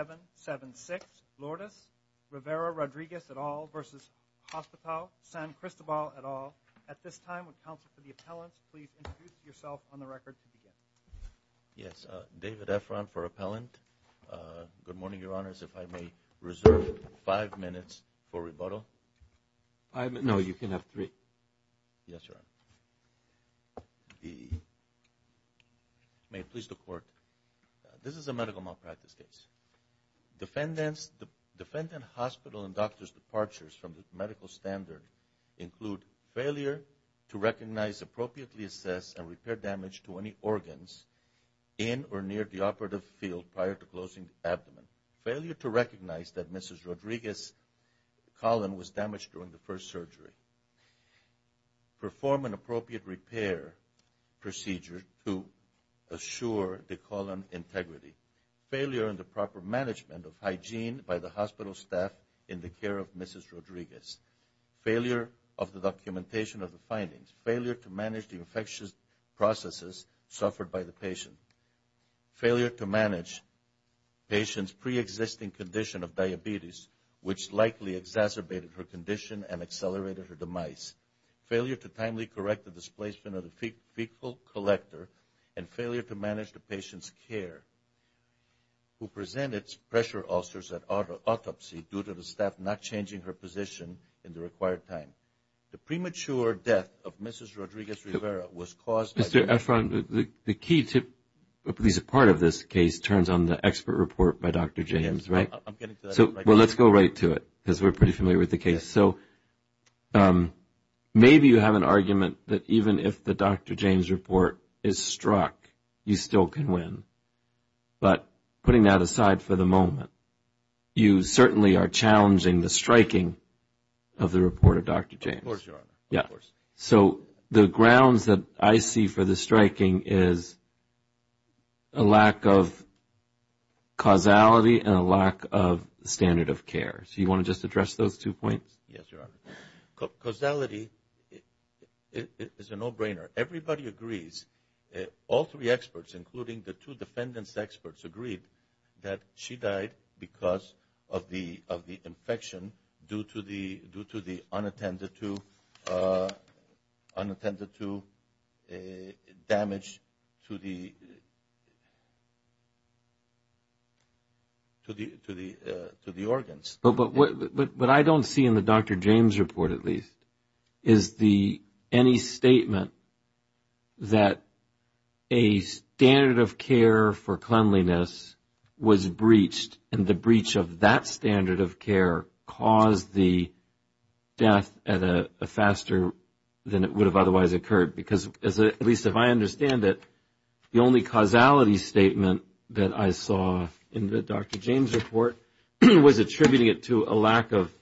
at all. At this time, would counsel for the appellant please introduce yourself on the record to begin. Yes, David Efron for appellant. Good morning, your honors. If I may reserve five minutes for rebuttal. No, you can have three. Yes, your honor. May it please the record. Defendant's hospital and doctor's departures from the medical standard include failure to recognize, appropriately assess, and repair damage to any organs in or near the operative field prior to closing abdomen. Failure to recognize that Mrs. Rodriguez's colon was damaged during the first surgery. Perform an appropriate repair procedure to assure the colon integrity. Failure in the proper management of hygiene by the hospital staff in the care of Mrs. Rodriguez. Failure of the documentation of the findings. Failure to manage the infectious processes suffered by the patient. Failure to manage patient's pre-existing condition of diabetes, which likely exacerbated her condition and accelerated her demise. Failure to timely correct the displacement of the fecal collector. And failure to manage the patient's care, who presented pressure ulcers at autopsy due to the staff not changing her position in the required time. The premature death of Mrs. Rodriguez-Rivera was caused by... Mr. Efron, the key to, at least a part of this case turns on the expert report by Dr. James, right? Yes, I'm getting to that right now. Well, let's go right to it because we're pretty familiar with the case. So, maybe you have an argument that even if the Dr. James report is struck, you still can win. But, putting that aside for the moment, you certainly are challenging the striking of the report of Dr. James. Of course, Your Honor. Yeah. So, the grounds that I see for the striking is a lack of causality and a lack of standard of care. So, you want to just address those two points? Yes, Your Honor. It's a no-brainer. Everybody agrees, all three experts including the two defendants experts agreed that she died because of the infection due to the unattended to damage to the organs. But, what I don't see in the Dr. James report, at least, is the any statement that a standard of care for cleanliness was breached and the breach of that standard of care caused the death at a faster than it would have otherwise occurred. Because, at least if I understand it, the only causality statement that I saw in the Dr. James report was attributing it to a lack of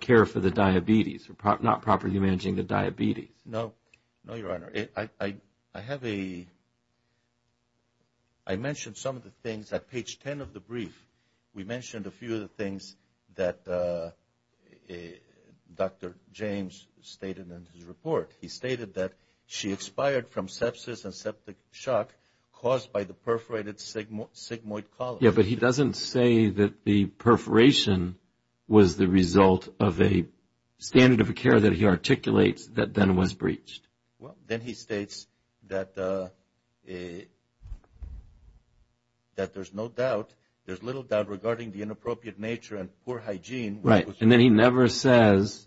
care for the diabetes, not properly managing the diabetes. No. No, Your Honor. I have a, I mentioned some of the things at page 10 of the brief. We mentioned a few of the things that Dr. James stated in his report. He stated that she expired from sepsis and septic shock caused by the perforated sigmoid colon. Yeah, but he doesn't say that the perforation was the result of a standard of care that he articulates that then was breached. Well, then he states that there's no doubt, there's little doubt regarding the inappropriate nature and poor hygiene. Right, and then he never says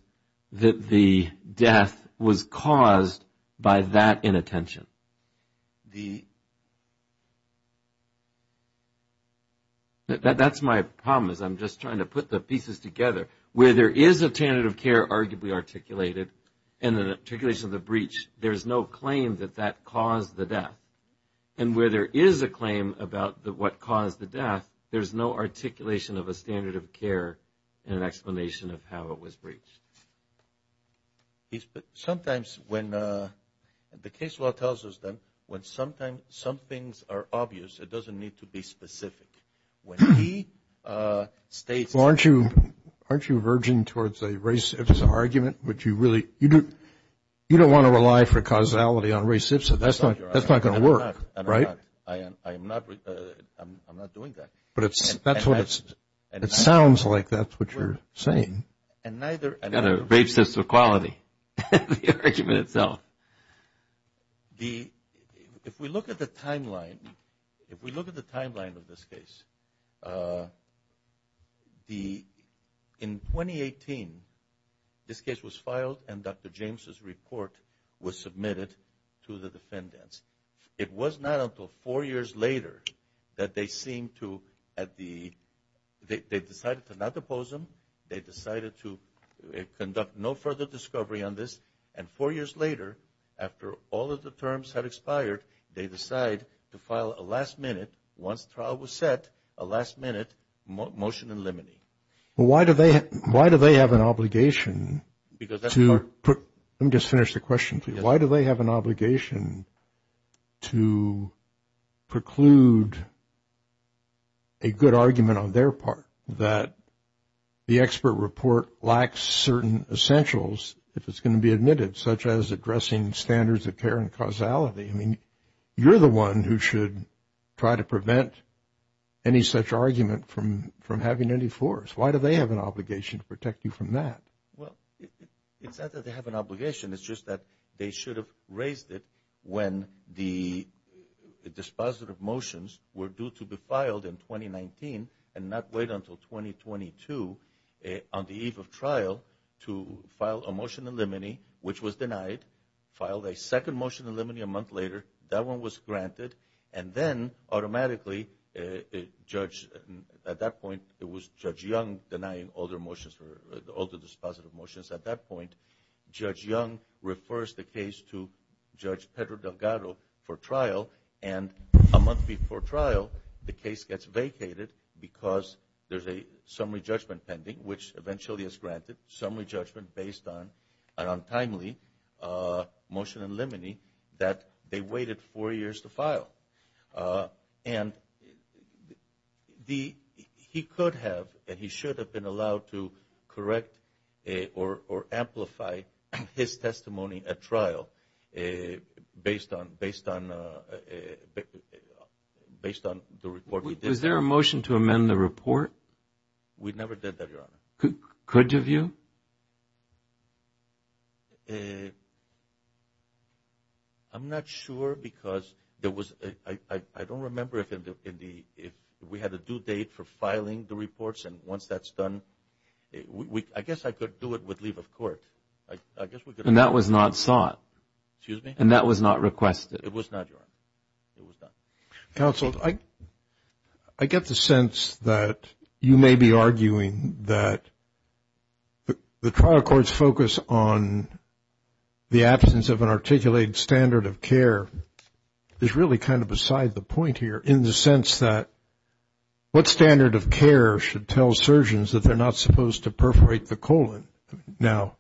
that the death was caused by that inattention. The... That's my problem, is I'm just trying to put the pieces together. Where there is a standard of care arguably articulated and an articulation of the breach, there's no claim that that caused the death. And where there is a claim about what caused the death, there's no articulation of a standard of care and an explanation of how it was breached. Sometimes when, the case law tells us that when sometimes some things are obvious, it doesn't need to be specific. When he states... Well, aren't you verging towards a race-civs argument? You don't want to rely for causality on race-civs, that's not going to work, right? I'm not doing that. But that's what it sounds like, that's what you're saying. You've got a race-civs equality in the argument itself. If we look at the timeline, if we look at the timeline of this case, in 2018, this case was filed and Dr. James' report was submitted to the defendants. It was not until four years later that they seemed to, they decided to not depose him, they decided to conduct no further discovery on this. And four years later, after all of the terms had expired, they decide to file a last minute, once trial was set, a last minute motion in limine. Why do they have an obligation to... Let me just finish the question for you. Why do they have an obligation to preclude a good argument on their part that the expert report lacks certain essentials, if it's going to be admitted, such as addressing standards of care and causality? I mean, you're the one who should try to prevent any such argument from having any force. Why do they have an obligation to protect you from that? Well, it's not that they have an obligation, it's just that they should have raised it when the dispositive motions were due to be filed in 2019 and not wait until 2022, on the eve of trial, to file a motion in limine, which was denied, filed a second motion in limine a month later, that one was granted, and then automatically, Judge, at that point, it was Judge Young denying all the dispositive motions at that point, Judge Young refers the case to Judge Pedro Delgado for trial, and a month before trial, the case gets vacated because there's a summary judgment pending, which eventually is granted, summary judgment based on an untimely motion in limine, that they waited four years to file, and he could have, and he should have been allowed to correct or amplify his testimony at trial based on the report. Was there a motion to amend the report? We never did that, Your Honor. Could you view? I'm not sure, because there was, I don't remember if we had a due date for filing the reports, and once that's done, I guess I could do it with leave of court. And that was not sought? Excuse me? And that was not requested? It was not, Your Honor, it was not. Counsel, I get the sense that you may be arguing that the trial court's focus on the absence of an articulated standard of care is really kind of beside the point here in the sense that what standard of care should tell surgeons that they're not supposed to perforate the colon? Now,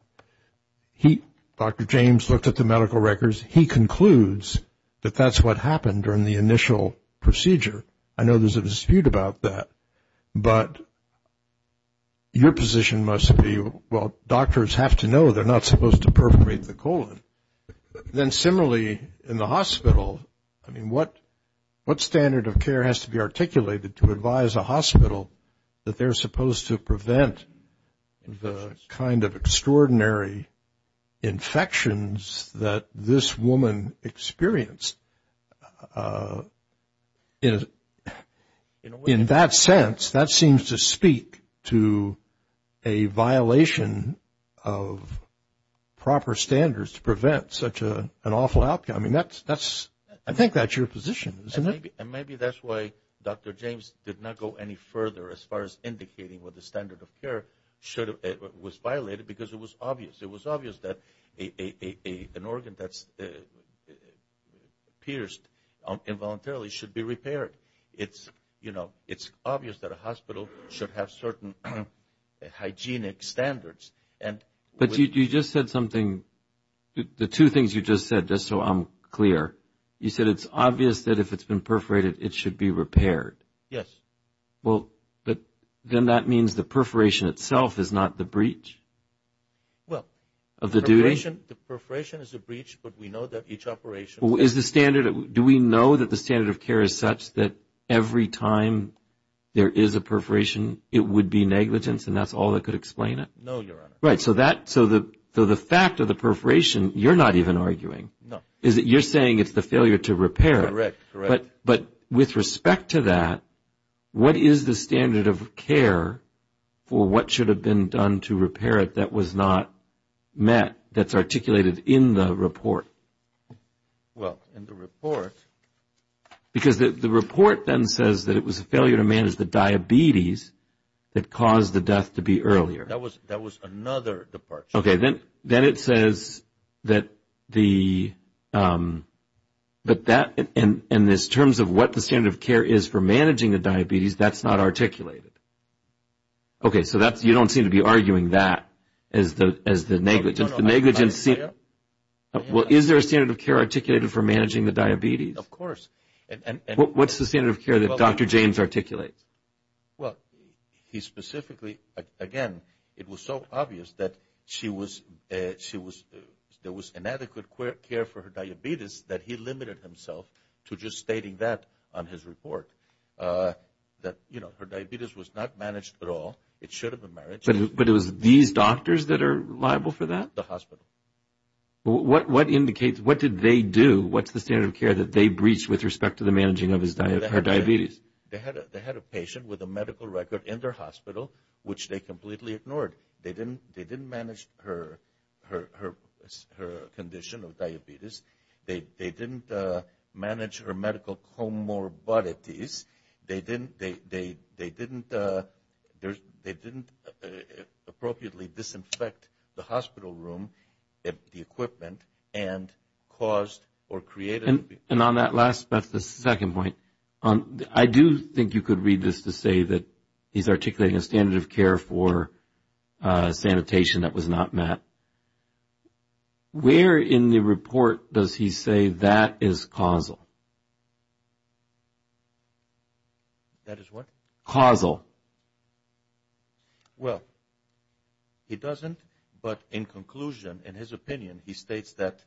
he, Dr. James looked at the medical records, he concludes that that's what happened during the initial procedure. I know there's a dispute about that, but your position must be, well, doctors have to know they're not supposed to perforate the colon. Then similarly, in the hospital, I mean, what standard of care has to be articulated to advise a hospital that they're supposed to prevent the kind of extraordinary infections that this is, in that sense, that seems to speak to a violation of proper standards to prevent such an awful outcome, and that's, I think that's your position, isn't it? And maybe that's why Dr. James did not go any further as far as indicating what the standard of care was violated, because it was obvious, it was obvious that an organ that's pierced involuntarily should be repaired. It's, you know, it's obvious that a hospital should have certain hygienic standards. But you just said something, the two things you just said, just so I'm clear, you said it's obvious that if it's been perforated, it should be repaired. Yes. Well, but then that means the perforation itself is not the breach of the duty? Well, the perforation is a breach, but we know that each operation... Do we know that the standard of care is such that every time there is a perforation, it would be negligence, and that's all that could explain it? No, Your Honor. Right. So, the fact of the perforation, you're not even arguing. No. You're saying it's the failure to repair. Correct. Correct. But with respect to that, what is the standard of care for what should have been done to repair it that was not met, that's articulated in the report? Well, in the report... Because the report then says that it was a failure to manage the diabetes that caused the death to be earlier. That was another departure. Okay. Then it says that in terms of what the standard of care is for managing the diabetes, that's not articulated. Okay. So, you don't seem to be arguing that as the negligence. Well, is there a standard of care articulated for managing the diabetes? Of course. What's the standard of care that Dr. James articulates? Well, he specifically, again, it was so obvious that there was inadequate care for her diabetes that he limited himself to just stating that on his report, that her diabetes was not managed at all. It should have been managed. But it was these doctors that are liable for that? The hospital. What did they do? What's the standard of care that they breached with respect to the managing of her diabetes? They had a patient with a medical record in their hospital, which they completely ignored. They didn't manage her condition of diabetes. They didn't manage her medical comorbidities. They didn't appropriately disinfect the hospital room, the equipment, and caused or created... And on that last, the second point, I do think you could read this to say that he's articulating a standard of care for sanitation that was not met. Where in the report does he say that is causal? That is what? Causal. Well, he doesn't. But in conclusion, in his opinion, he states that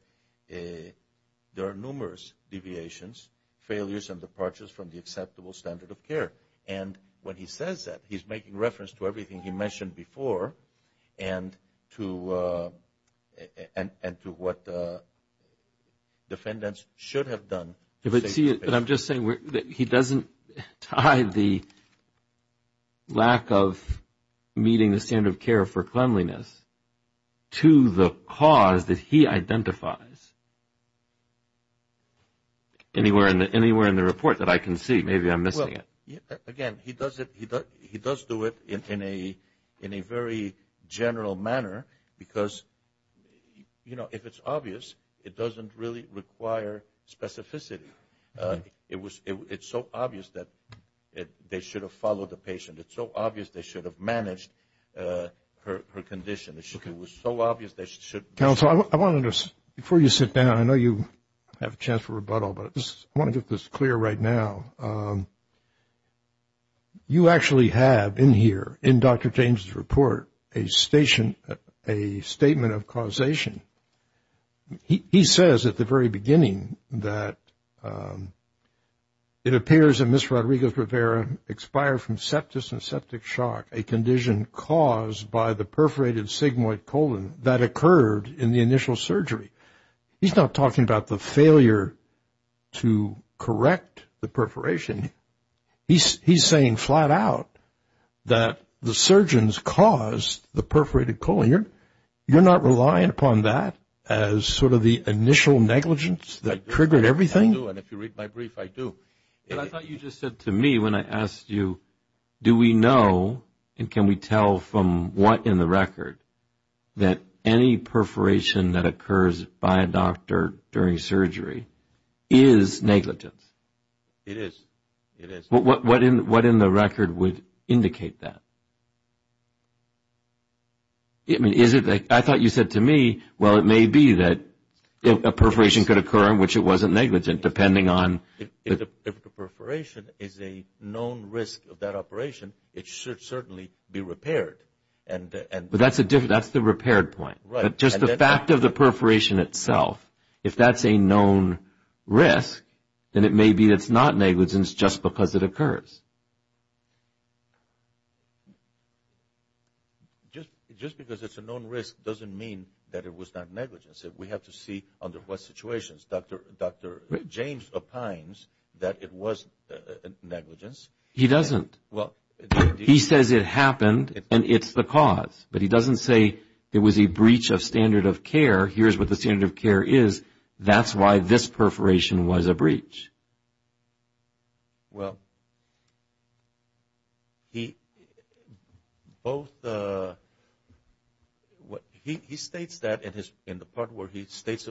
there are numerous deviations, failures, and departures from the acceptable standard of care. And when he says that, he's making reference to everything he mentioned before and to what defendants should have done. But I'm just saying that he doesn't tie the lack of meeting the standard of care for cleanliness to the cause that he identifies anywhere in the report that I can see. Maybe I'm missing it. Again, he does do it in a very general manner because, you know, if it's obvious, it doesn't really require specificity. It's so obvious that they should have followed the patient. It's so obvious they should have managed her condition. It was so obvious they should... Counsel, I wanted to, before you sit down, I know you have a chance for rebuttal, but I want to get this clear right now. You actually have in here, in Dr. James' report, a statement of causation. He says at the very beginning that it appears that Ms. Rodriguez-Rivera expired from septus and septic shock, a condition caused by the perforated sigmoid colon that occurred in the initial surgery. He's not talking about the failure to correct the perforation. He's saying flat out that the surgeons caused the perforated colon. You're not relying upon that as sort of the initial negligence that triggered everything? I do, and if you read my brief, I do. I thought you just said to me when I asked you, do we know and can we tell from what in the record that any perforation that occurs by a doctor during surgery is negligence? It is. What in the record would indicate that? I thought you said to me, well, it may be that a perforation could occur in which it wasn't negligent, depending on... If the perforation is a known risk of that operation, it should certainly be repaired. But that's the repaired point. Just the fact of the perforation itself, if that's a known risk, then it may be that it's not negligence just because it occurs. Just because it's a known risk doesn't mean that it was not negligence. We have to see under what situations. Dr. James opines that it was negligence. He doesn't. He says it happened and it's the cause, but he doesn't say it was a breach of standard of care. Here's what the standard of care is. That's why this perforation was a breach. Well, he states that in the part where he states,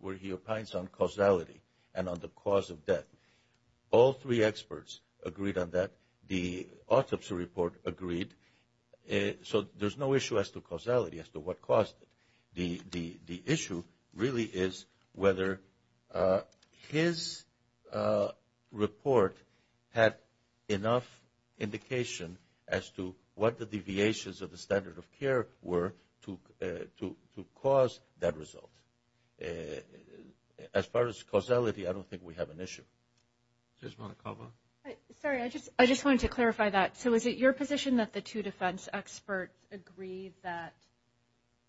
where he opines on causality and on the cause of death. All three experts agreed on that. The autopsy report agreed. So there's no issue as to causality, as to what caused it. The issue really is whether his report had enough indication as to what the deviations of the standard of care were to cause that result. As far as causality, I don't think we have an issue. Sorry, I just wanted to clarify that. So is it your position that the two defense experts agreed that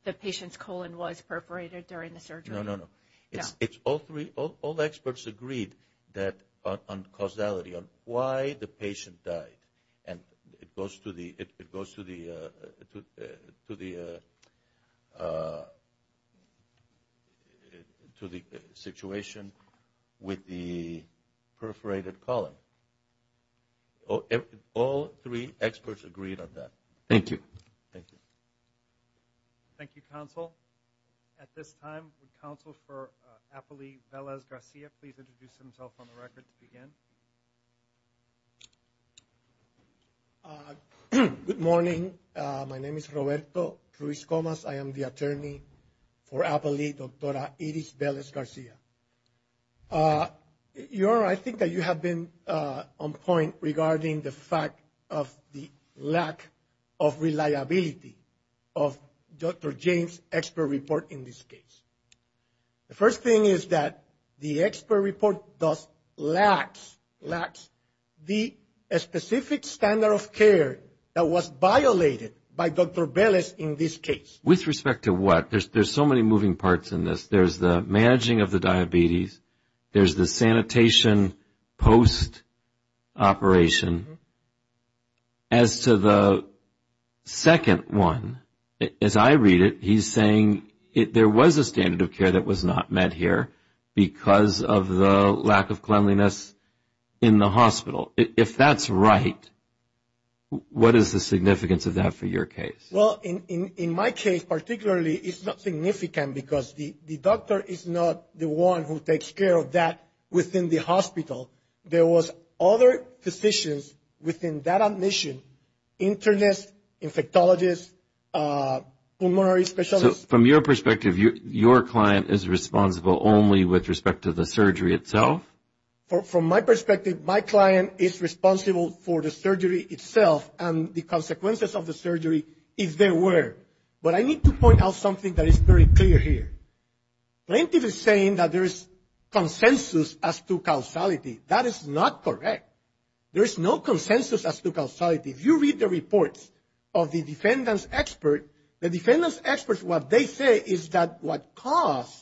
the patient's colon was perforated during the surgery? No, no, no. All experts agreed on causality, on why the patient died. And it goes to the situation with the perforated colon. All three experts agreed on that. Thank you. Thank you. Thank you, counsel. At this time, would counsel for Apolli Vélez-Garcia please introduce himself on the record to begin? Good morning. My name is Roberto Ruiz Comas. I am the attorney for Apolli, Dr. Iris Vélez-Garcia. Your Honor, I think that you have been on point regarding the fact of the lack of reliability of Dr. James' expert report in this case. The first thing is that the expert report does lack the specific standard of care that was violated by Dr. Vélez in this case. With respect to what? There's so many moving parts in this. There's the managing of the diabetes. There's the sanitation post-operation. As to the second one, as I read it, he's saying there was a standard of care that was not met here because of the lack of cleanliness in the hospital. If that's right, what is the significance of that for your case? Well, in my case particularly, it's not significant because the doctor is not the one who takes care of that within the hospital. There was other physicians within that admission, internists, infectologists, pulmonary specialists. So from your perspective, your client is responsible only with respect to the surgery itself? From my perspective, my client is responsible for the surgery itself and the consequences of the surgery if there were. But I need to point out something that is very clear here. Plaintiff is saying that there is consensus as to causality. That is not correct. There is no consensus as to causality. If you read the reports of the defendants' experts, the defendants' experts, what they say is that what caused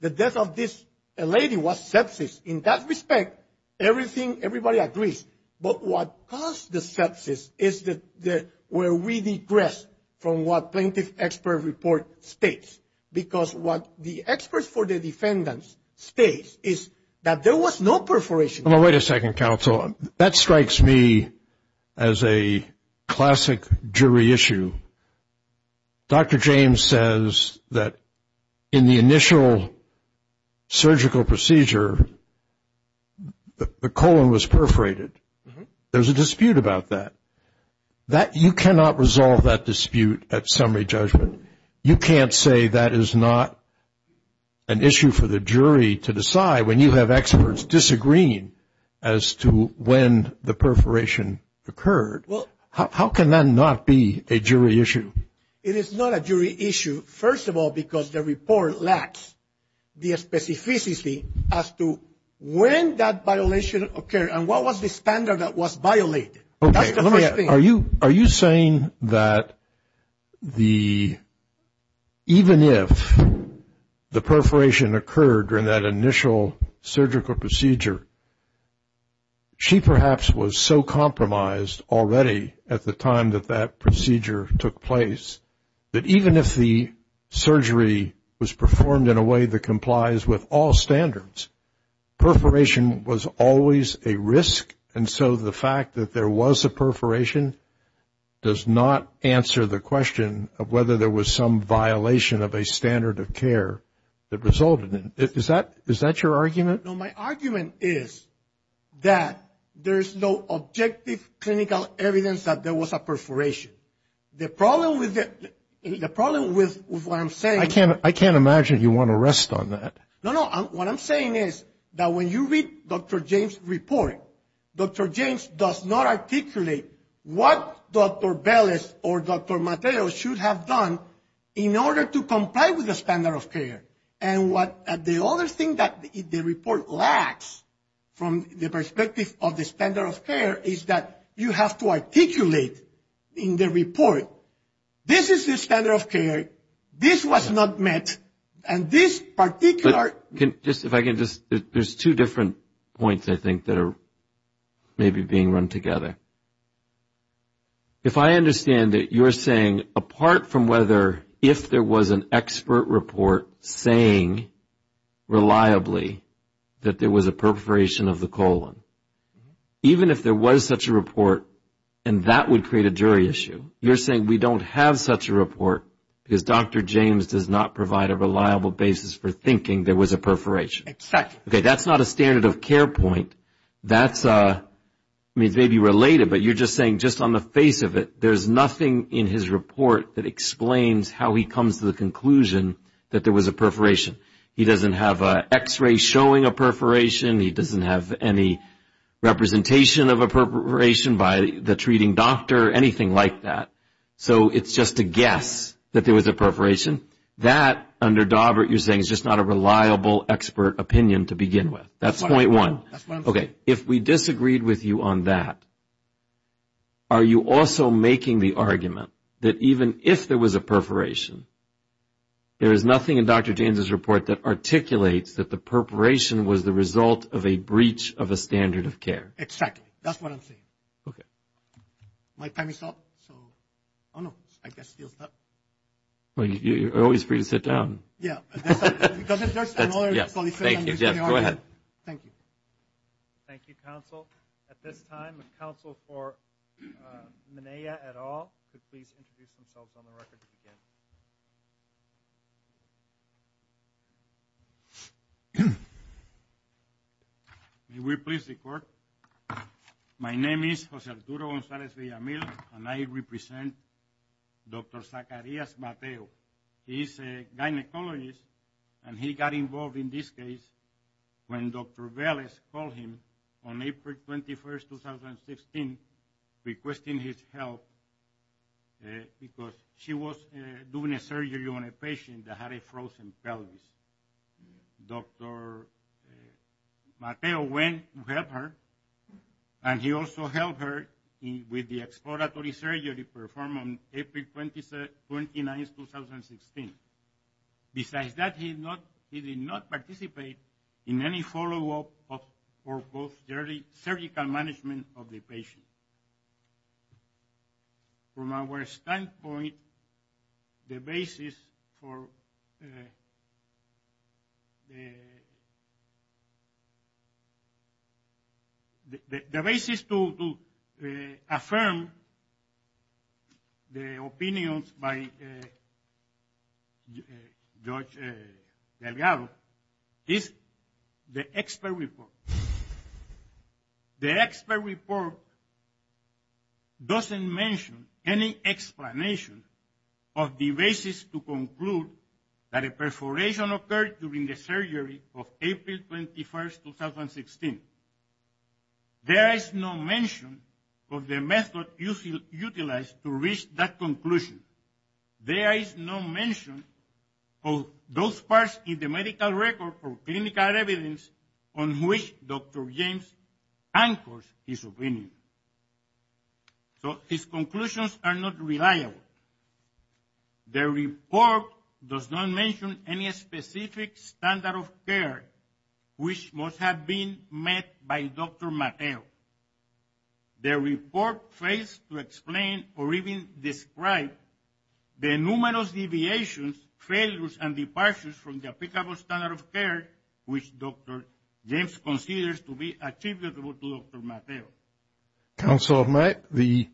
the death of this lady was sepsis. In that respect, everything, everybody agrees. But what caused the sepsis is where we digress from what plaintiff expert report states. Because what the experts for the defendants state is that there was no perforation. Wait a second, counsel. That strikes me as a classic jury issue. Dr. James says that in the initial surgical procedure, the colon was perforated. There's a dispute about that. You cannot resolve that dispute at summary judgment. You can't say that is not an issue for the jury to decide when you have experts disagreeing as to when the perforation occurred. How can that not be a jury issue? It is not a jury issue, first of all, because the report lacks the specificity as to when that violation occurred and what was the standard that was violated. Are you saying that even if the perforation occurred during that initial surgical procedure, she perhaps was so compromised already at the time that that procedure took place that even if the surgery was performed in a way that complies with all standards, perforation was always a risk, and so the fact that there was a perforation does not answer the question of whether there was some violation of a standard of care that resulted in it. Is that your argument? No, my argument is that there's no objective clinical evidence that there was a perforation. The problem with what I'm saying — I can't imagine you want to rest on that. No, no, what I'm saying is that when you read Dr. James' report, Dr. James does not articulate what Dr. Bellis or Dr. Mateo should have done in order to comply with the standard of care. And the other thing that the report lacks from the perspective of the standard of care is that you have to articulate in the report, this is the standard of care, this was not met, and this particular — If I can just — there's two different points I think that are maybe being run together. If I understand it, you're saying apart from whether if there was an expert report saying reliably that there was a perforation of the colon, even if there was such a report and that would create a jury issue, you're saying we don't have such a report because Dr. James does not provide a reliable basis for thinking there was a perforation. Exactly. Okay, that's not a standard of care point. That's maybe related, but you're just saying just on the face of it, there's nothing in his report that explains how he comes to the conclusion that there was a perforation. He doesn't have an x-ray showing a perforation. He doesn't have any representation of a perforation by the treating doctor or anything like that. So, it's just a guess that there was a perforation. That, under Dawbert, you're saying is just not a reliable expert opinion to begin with. That's point one. Okay, if we disagreed with you on that, are you also making the argument that even if there was a perforation, there is nothing in Dr. James' report that articulates that the perforation was the result of a breach of a standard of care? Exactly. That's what I'm saying. Okay. My time is up. So, oh, no. I guess it feels bad. Well, you're always free to sit down. Thank you, Jeff. Go ahead. Thank you. Thank you, counsel. At this time, the counsel for Menea et al. could please introduce themselves on the record to begin. May we please record? My name is Jose Arturo Gonzalez Villamil, and I represent Dr. Zacarias Mateo. He's a gynecologist, and he got involved in this case when Dr. Velez called him on April 21st, 2016, requesting his help, because she was doing a surgery on a patient that had a frozen pelvis. Dr. Mateo went to help her, and he also helped her with the exploratory surgery performed on April 29th, 2016. Besides that, he did not participate in any follow-up or surgical management of the patient. From our standpoint, the basis to affirm the opinions by Judge Delgado is the expert report. The expert report doesn't mention any explanation of the basis to conclude that a perforation occurred during the surgery of April 21st, 2016. There is no mention of the method utilized to reach that conclusion. There is no mention of those parts in the medical record or clinical evidence on which Dr. James anchors his opinion. So his conclusions are not reliable. The report does not mention any specific standard of care which must have been met by Dr. Mateo. The report fails to explain or even describe the numerous deviations, failures, and departures from the applicable standard of care which Dr. James considers to be attributable to Dr. Mateo. Counsel, the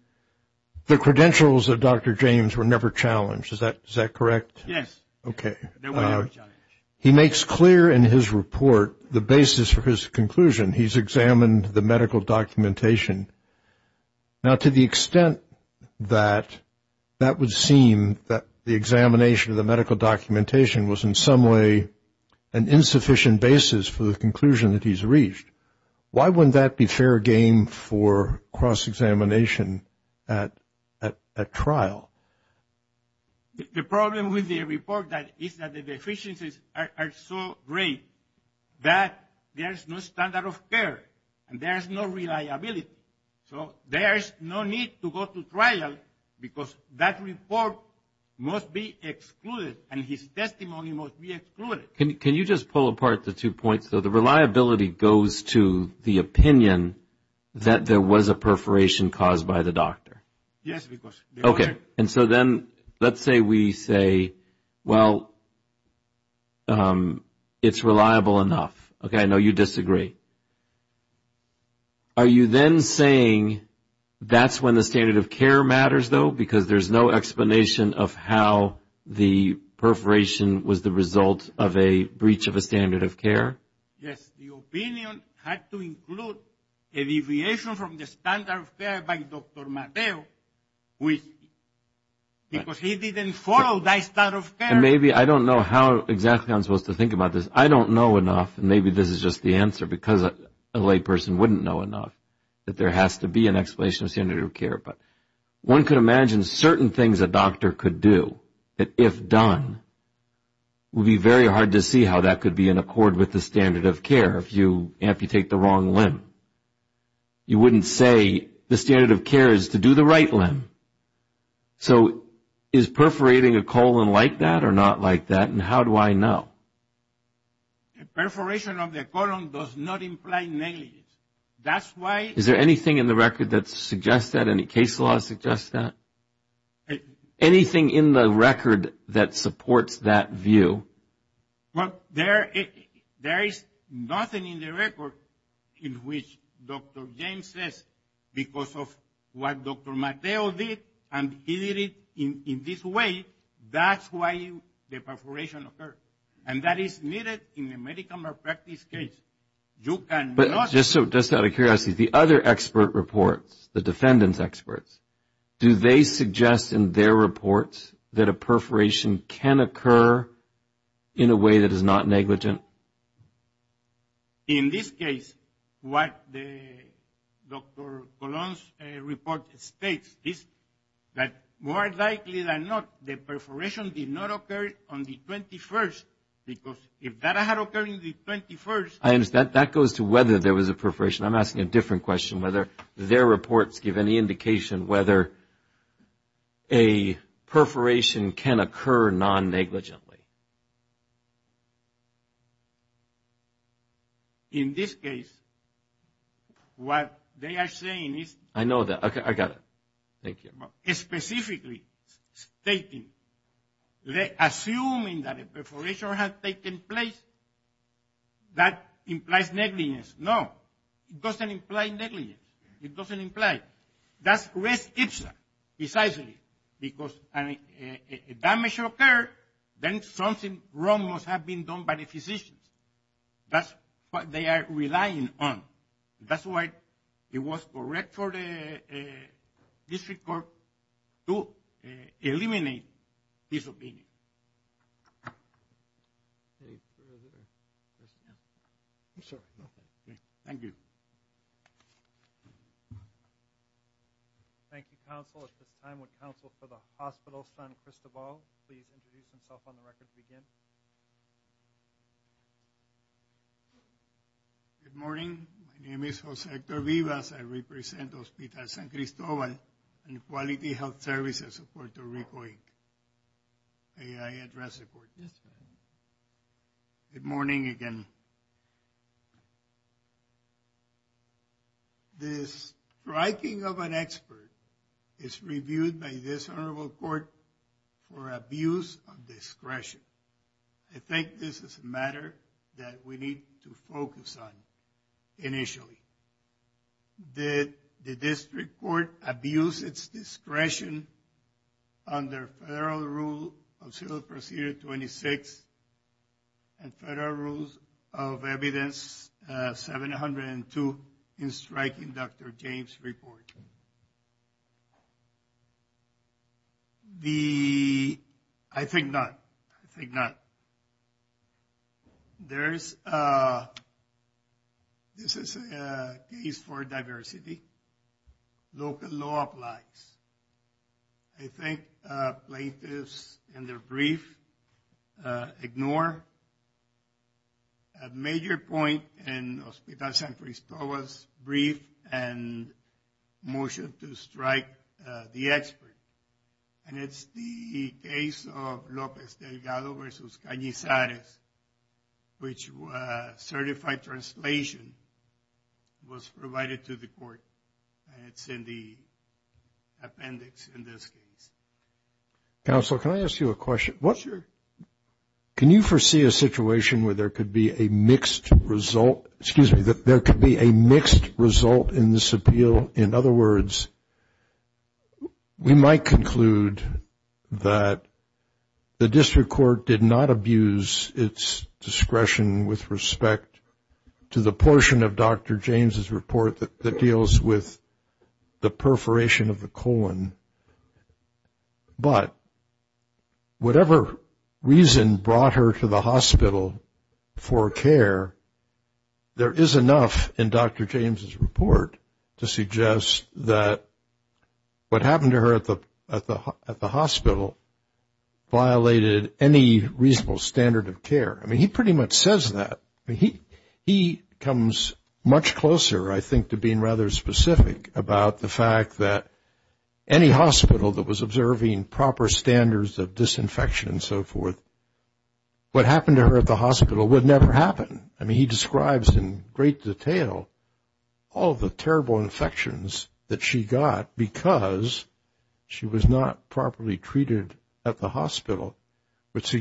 credentials of Dr. James were never challenged, is that correct? Yes. Okay. They were never challenged. He makes clear in his report the basis for his conclusion. He's examined the medical documentation. Now, to the extent that that would seem that the examination of the medical documentation was in some way an insufficient basis for the conclusion that he's reached, why wouldn't that be fair game for cross-examination at trial? The problem with the report is that the deficiencies are so great that there is no standard of care and there is no reliability. So there is no need to go to trial because that report must be excluded and his testimony must be excluded. Can you just pull apart the two points? The reliability goes to the opinion that there was a perforation caused by the doctor. Yes. Okay. And so then let's say we say, well, it's reliable enough. Okay, I know you disagree. Are you then saying that's when the standard of care matters, though, because there's no explanation of how the perforation was the result of a breach of a standard of care? Yes, the opinion had to include a deviation from the standard of care by Dr. Mateo because he didn't follow that standard of care. And maybe I don't know how exactly I'm supposed to think about this. I don't know enough, and maybe this is just the answer because a layperson wouldn't know enough, that there has to be an explanation of standard of care. One could imagine certain things a doctor could do that, if done, would be very hard to see how that could be in accord with the standard of care. If you amputate the wrong limb, you wouldn't say the standard of care is to do the right limb. So is perforating a colon like that or not like that, and how do I know? A perforation of the colon does not imply negligence. Is there anything in the record that suggests that? Any case law that suggests that? Anything in the record that supports that view? Well, there is nothing in the record in which Dr. James says because of what Dr. Mateo did, and he did it in this way, that's why the perforation occurred. And that is needed in a medical malpractice case. But just out of curiosity, the other expert reports, the defendant's experts, do they suggest in their reports that a perforation can occur in a way that is not negligent? In this case, what Dr. Colon's report states is that more likely than not, the perforation did not occur on the 21st, because if that had occurred on the 21st. That goes to whether there was a perforation. I'm asking a different question, whether their reports give any indication whether a perforation can occur non-negligently. In this case, what they are saying is. I know that. Okay, I got it. Thank you. Specifically stating, assuming that a perforation had taken place, that implies negligence. No, it doesn't imply negligence. It doesn't imply. That's res ipsa, precisely. Because if damage occurred, then something wrong must have been done by the physician. That's what they are relying on. That's why it was correct for the district court to eliminate this opinion. Thank you. Thank you, counsel. At this time, would counsel for the hospital son, Cristobal, please introduce himself on the record to begin? Good morning. My name is Josector Vivas. I represent Hospital San Cristobal and Quality Health Services of Puerto Rico, Inc. May I address the court? Yes, ma'am. Good morning again. The striking of an expert is reviewed by this honorable court for abuse of discretion. I think this is a matter that we need to focus on initially. Did the district court abuse its discretion under federal rule of civil procedure 26 and federal rules of evidence 702 in striking Dr. James' report? I think not. I think not. This is a case for diversity. Local law applies. I think plaintiffs in their brief ignore a major point in Hospital San Cristobal's brief and motion to strike the expert. And it's the case of Lopez Delgado versus Cañizares, which certified translation was provided to the court. And it's in the appendix in this case. Counsel, can I ask you a question? Sure. Can you foresee a situation where there could be a mixed result in this appeal? In other words, we might conclude that the district court did not abuse its discretion with respect to the portion of Dr. James' report that deals with the perforation of the colon. But whatever reason brought her to the hospital for care, there is enough in Dr. James' report to suggest that what happened to her at the hospital violated any reasonable standard of care. I mean, he pretty much says that. He comes much closer, I think, to being rather specific about the fact that any hospital that was observing proper standards of disinfection and so forth, what happened to her at the hospital would never happen. I mean, he describes in great detail all the terrible infections that she got because she was not properly treated at the hospital. I mean, that's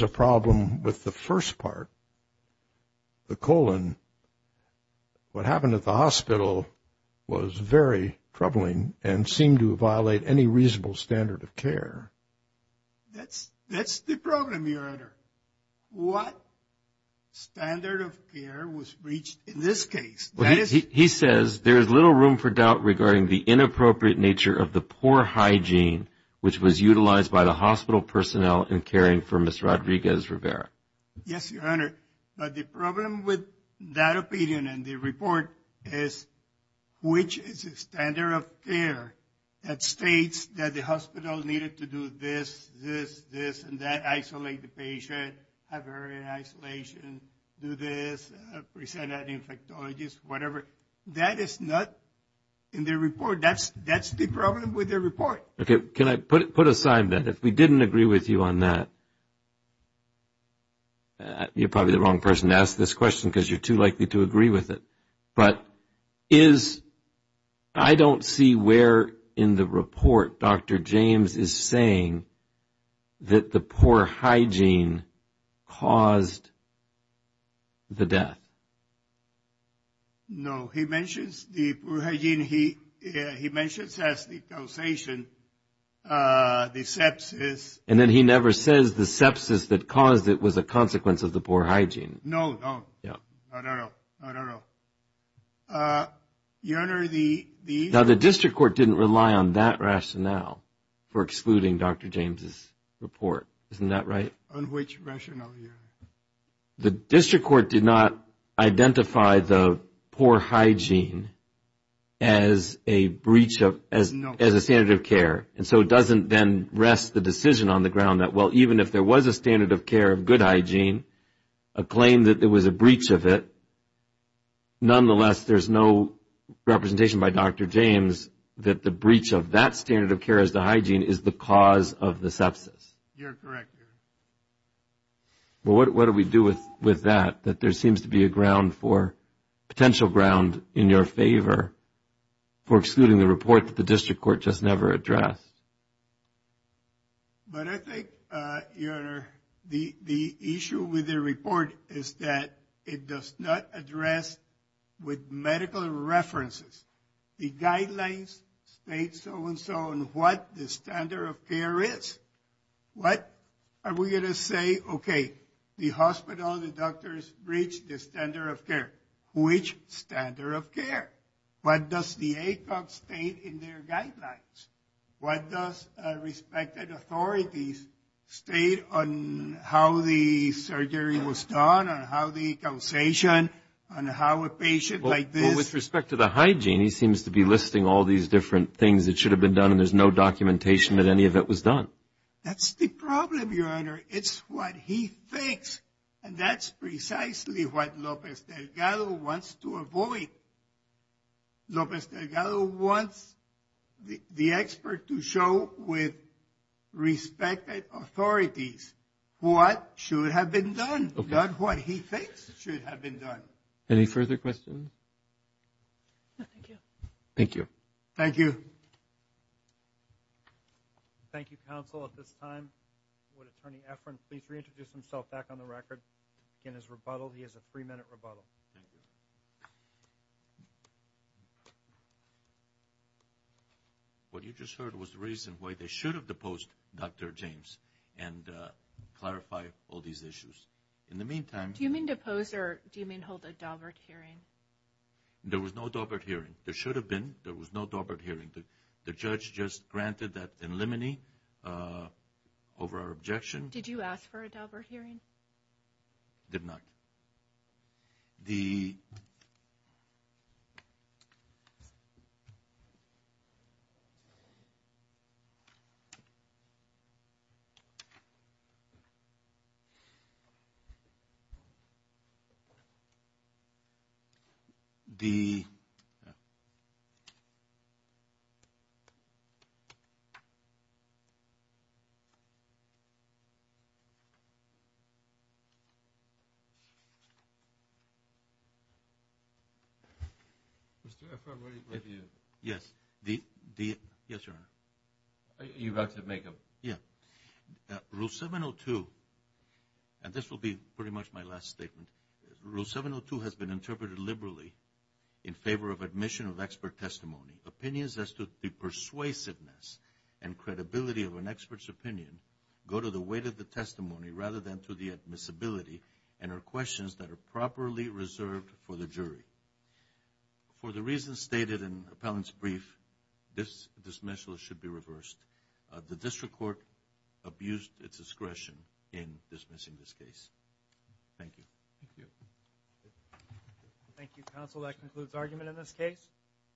the problem with the first part, the colon. What happened at the hospital was very troubling and seemed to violate any reasonable standard of care. That's the problem, Your Honor. What standard of care was reached in this case? He says, there is little room for doubt regarding the inappropriate nature of the poor hygiene which was utilized by the Yes, Your Honor. But the problem with that opinion and the report is which is a standard of care that states that the hospital needed to do this, this, this, and that, isolate the patient, have her in isolation, do this, present an infectologist, whatever. That is not in the report. That's the problem with the report. Okay. Can I put aside that if we didn't agree with you on that? You're probably the wrong person to ask this question because you're too likely to agree with it. But is, I don't see where in the report Dr. James is saying that the poor hygiene caused the death. No. He mentions the poor hygiene. He mentions as the causation the sepsis. And then he never says the sepsis that caused it was a consequence of the poor hygiene. No, no. Yeah. Not at all. Not at all. Your Honor, the issue Now, the district court didn't rely on that rationale for excluding Dr. James' report. Isn't that right? On which rationale, Your Honor? The district court did not identify the poor hygiene as a breach of, as a standard of care. And so it doesn't then rest the decision on the ground that, well, even if there was a standard of care of good hygiene, a claim that there was a breach of it, nonetheless, there's no representation by Dr. James that the breach of that standard of care as to hygiene is the cause of the sepsis. You're correct, Your Honor. Well, what do we do with that? That there seems to be a ground for, potential ground in your favor for excluding the report that the district court just never addressed. But I think, Your Honor, the issue with the report is that it does not address with medical references the guidelines, state so-and-so, and what the standard of care is. What are we going to say? Okay, the hospital, the doctors breached the standard of care. Which standard of care? What does the ACOG state in their guidelines? What does respected authorities state on how the surgery was done, on how the causation, on how a patient like this? Well, with respect to the hygiene, he seems to be listing all these different things that should have been done, and there's no documentation that any of it was done. That's the problem, Your Honor. It's what he thinks, and that's precisely what Lopez Delgado wants to avoid. Lopez Delgado wants the expert to show with respected authorities what should have been done, not what he thinks should have been done. Any further questions? No, thank you. Thank you. Thank you. Thank you, counsel. At this time, would Attorney Efron please reintroduce himself back on the record in his rebuttal? He has a three-minute rebuttal. Thank you. What you just heard was the reason why they should have deposed Dr. James and clarify all these issues. In the meantime— Do you mean depose, or do you mean hold a Daubert hearing? There was no Daubert hearing. There should have been. There was no Daubert hearing. The judge just granted that in limine over our objection. Did you ask for a Daubert hearing? Did not. The— Mr. Efron, what do you— Yes. The— Yes, Your Honor. You'd like to make a— Yeah. Rule 702, and this will be pretty much my last statement, Rule 702 has been interpreted liberally in favor of admission of expert testimony. Opinions as to the persuasiveness and credibility of an expert's opinion go to the weight of the testimony rather than to the admissibility and are questions that are properly reserved for the jury. For the reasons stated in appellant's brief, this dismissal should be reversed. The district court abused its discretion in dismissing this case. Thank you. Thank you. Thank you, counsel. That concludes argument in this case.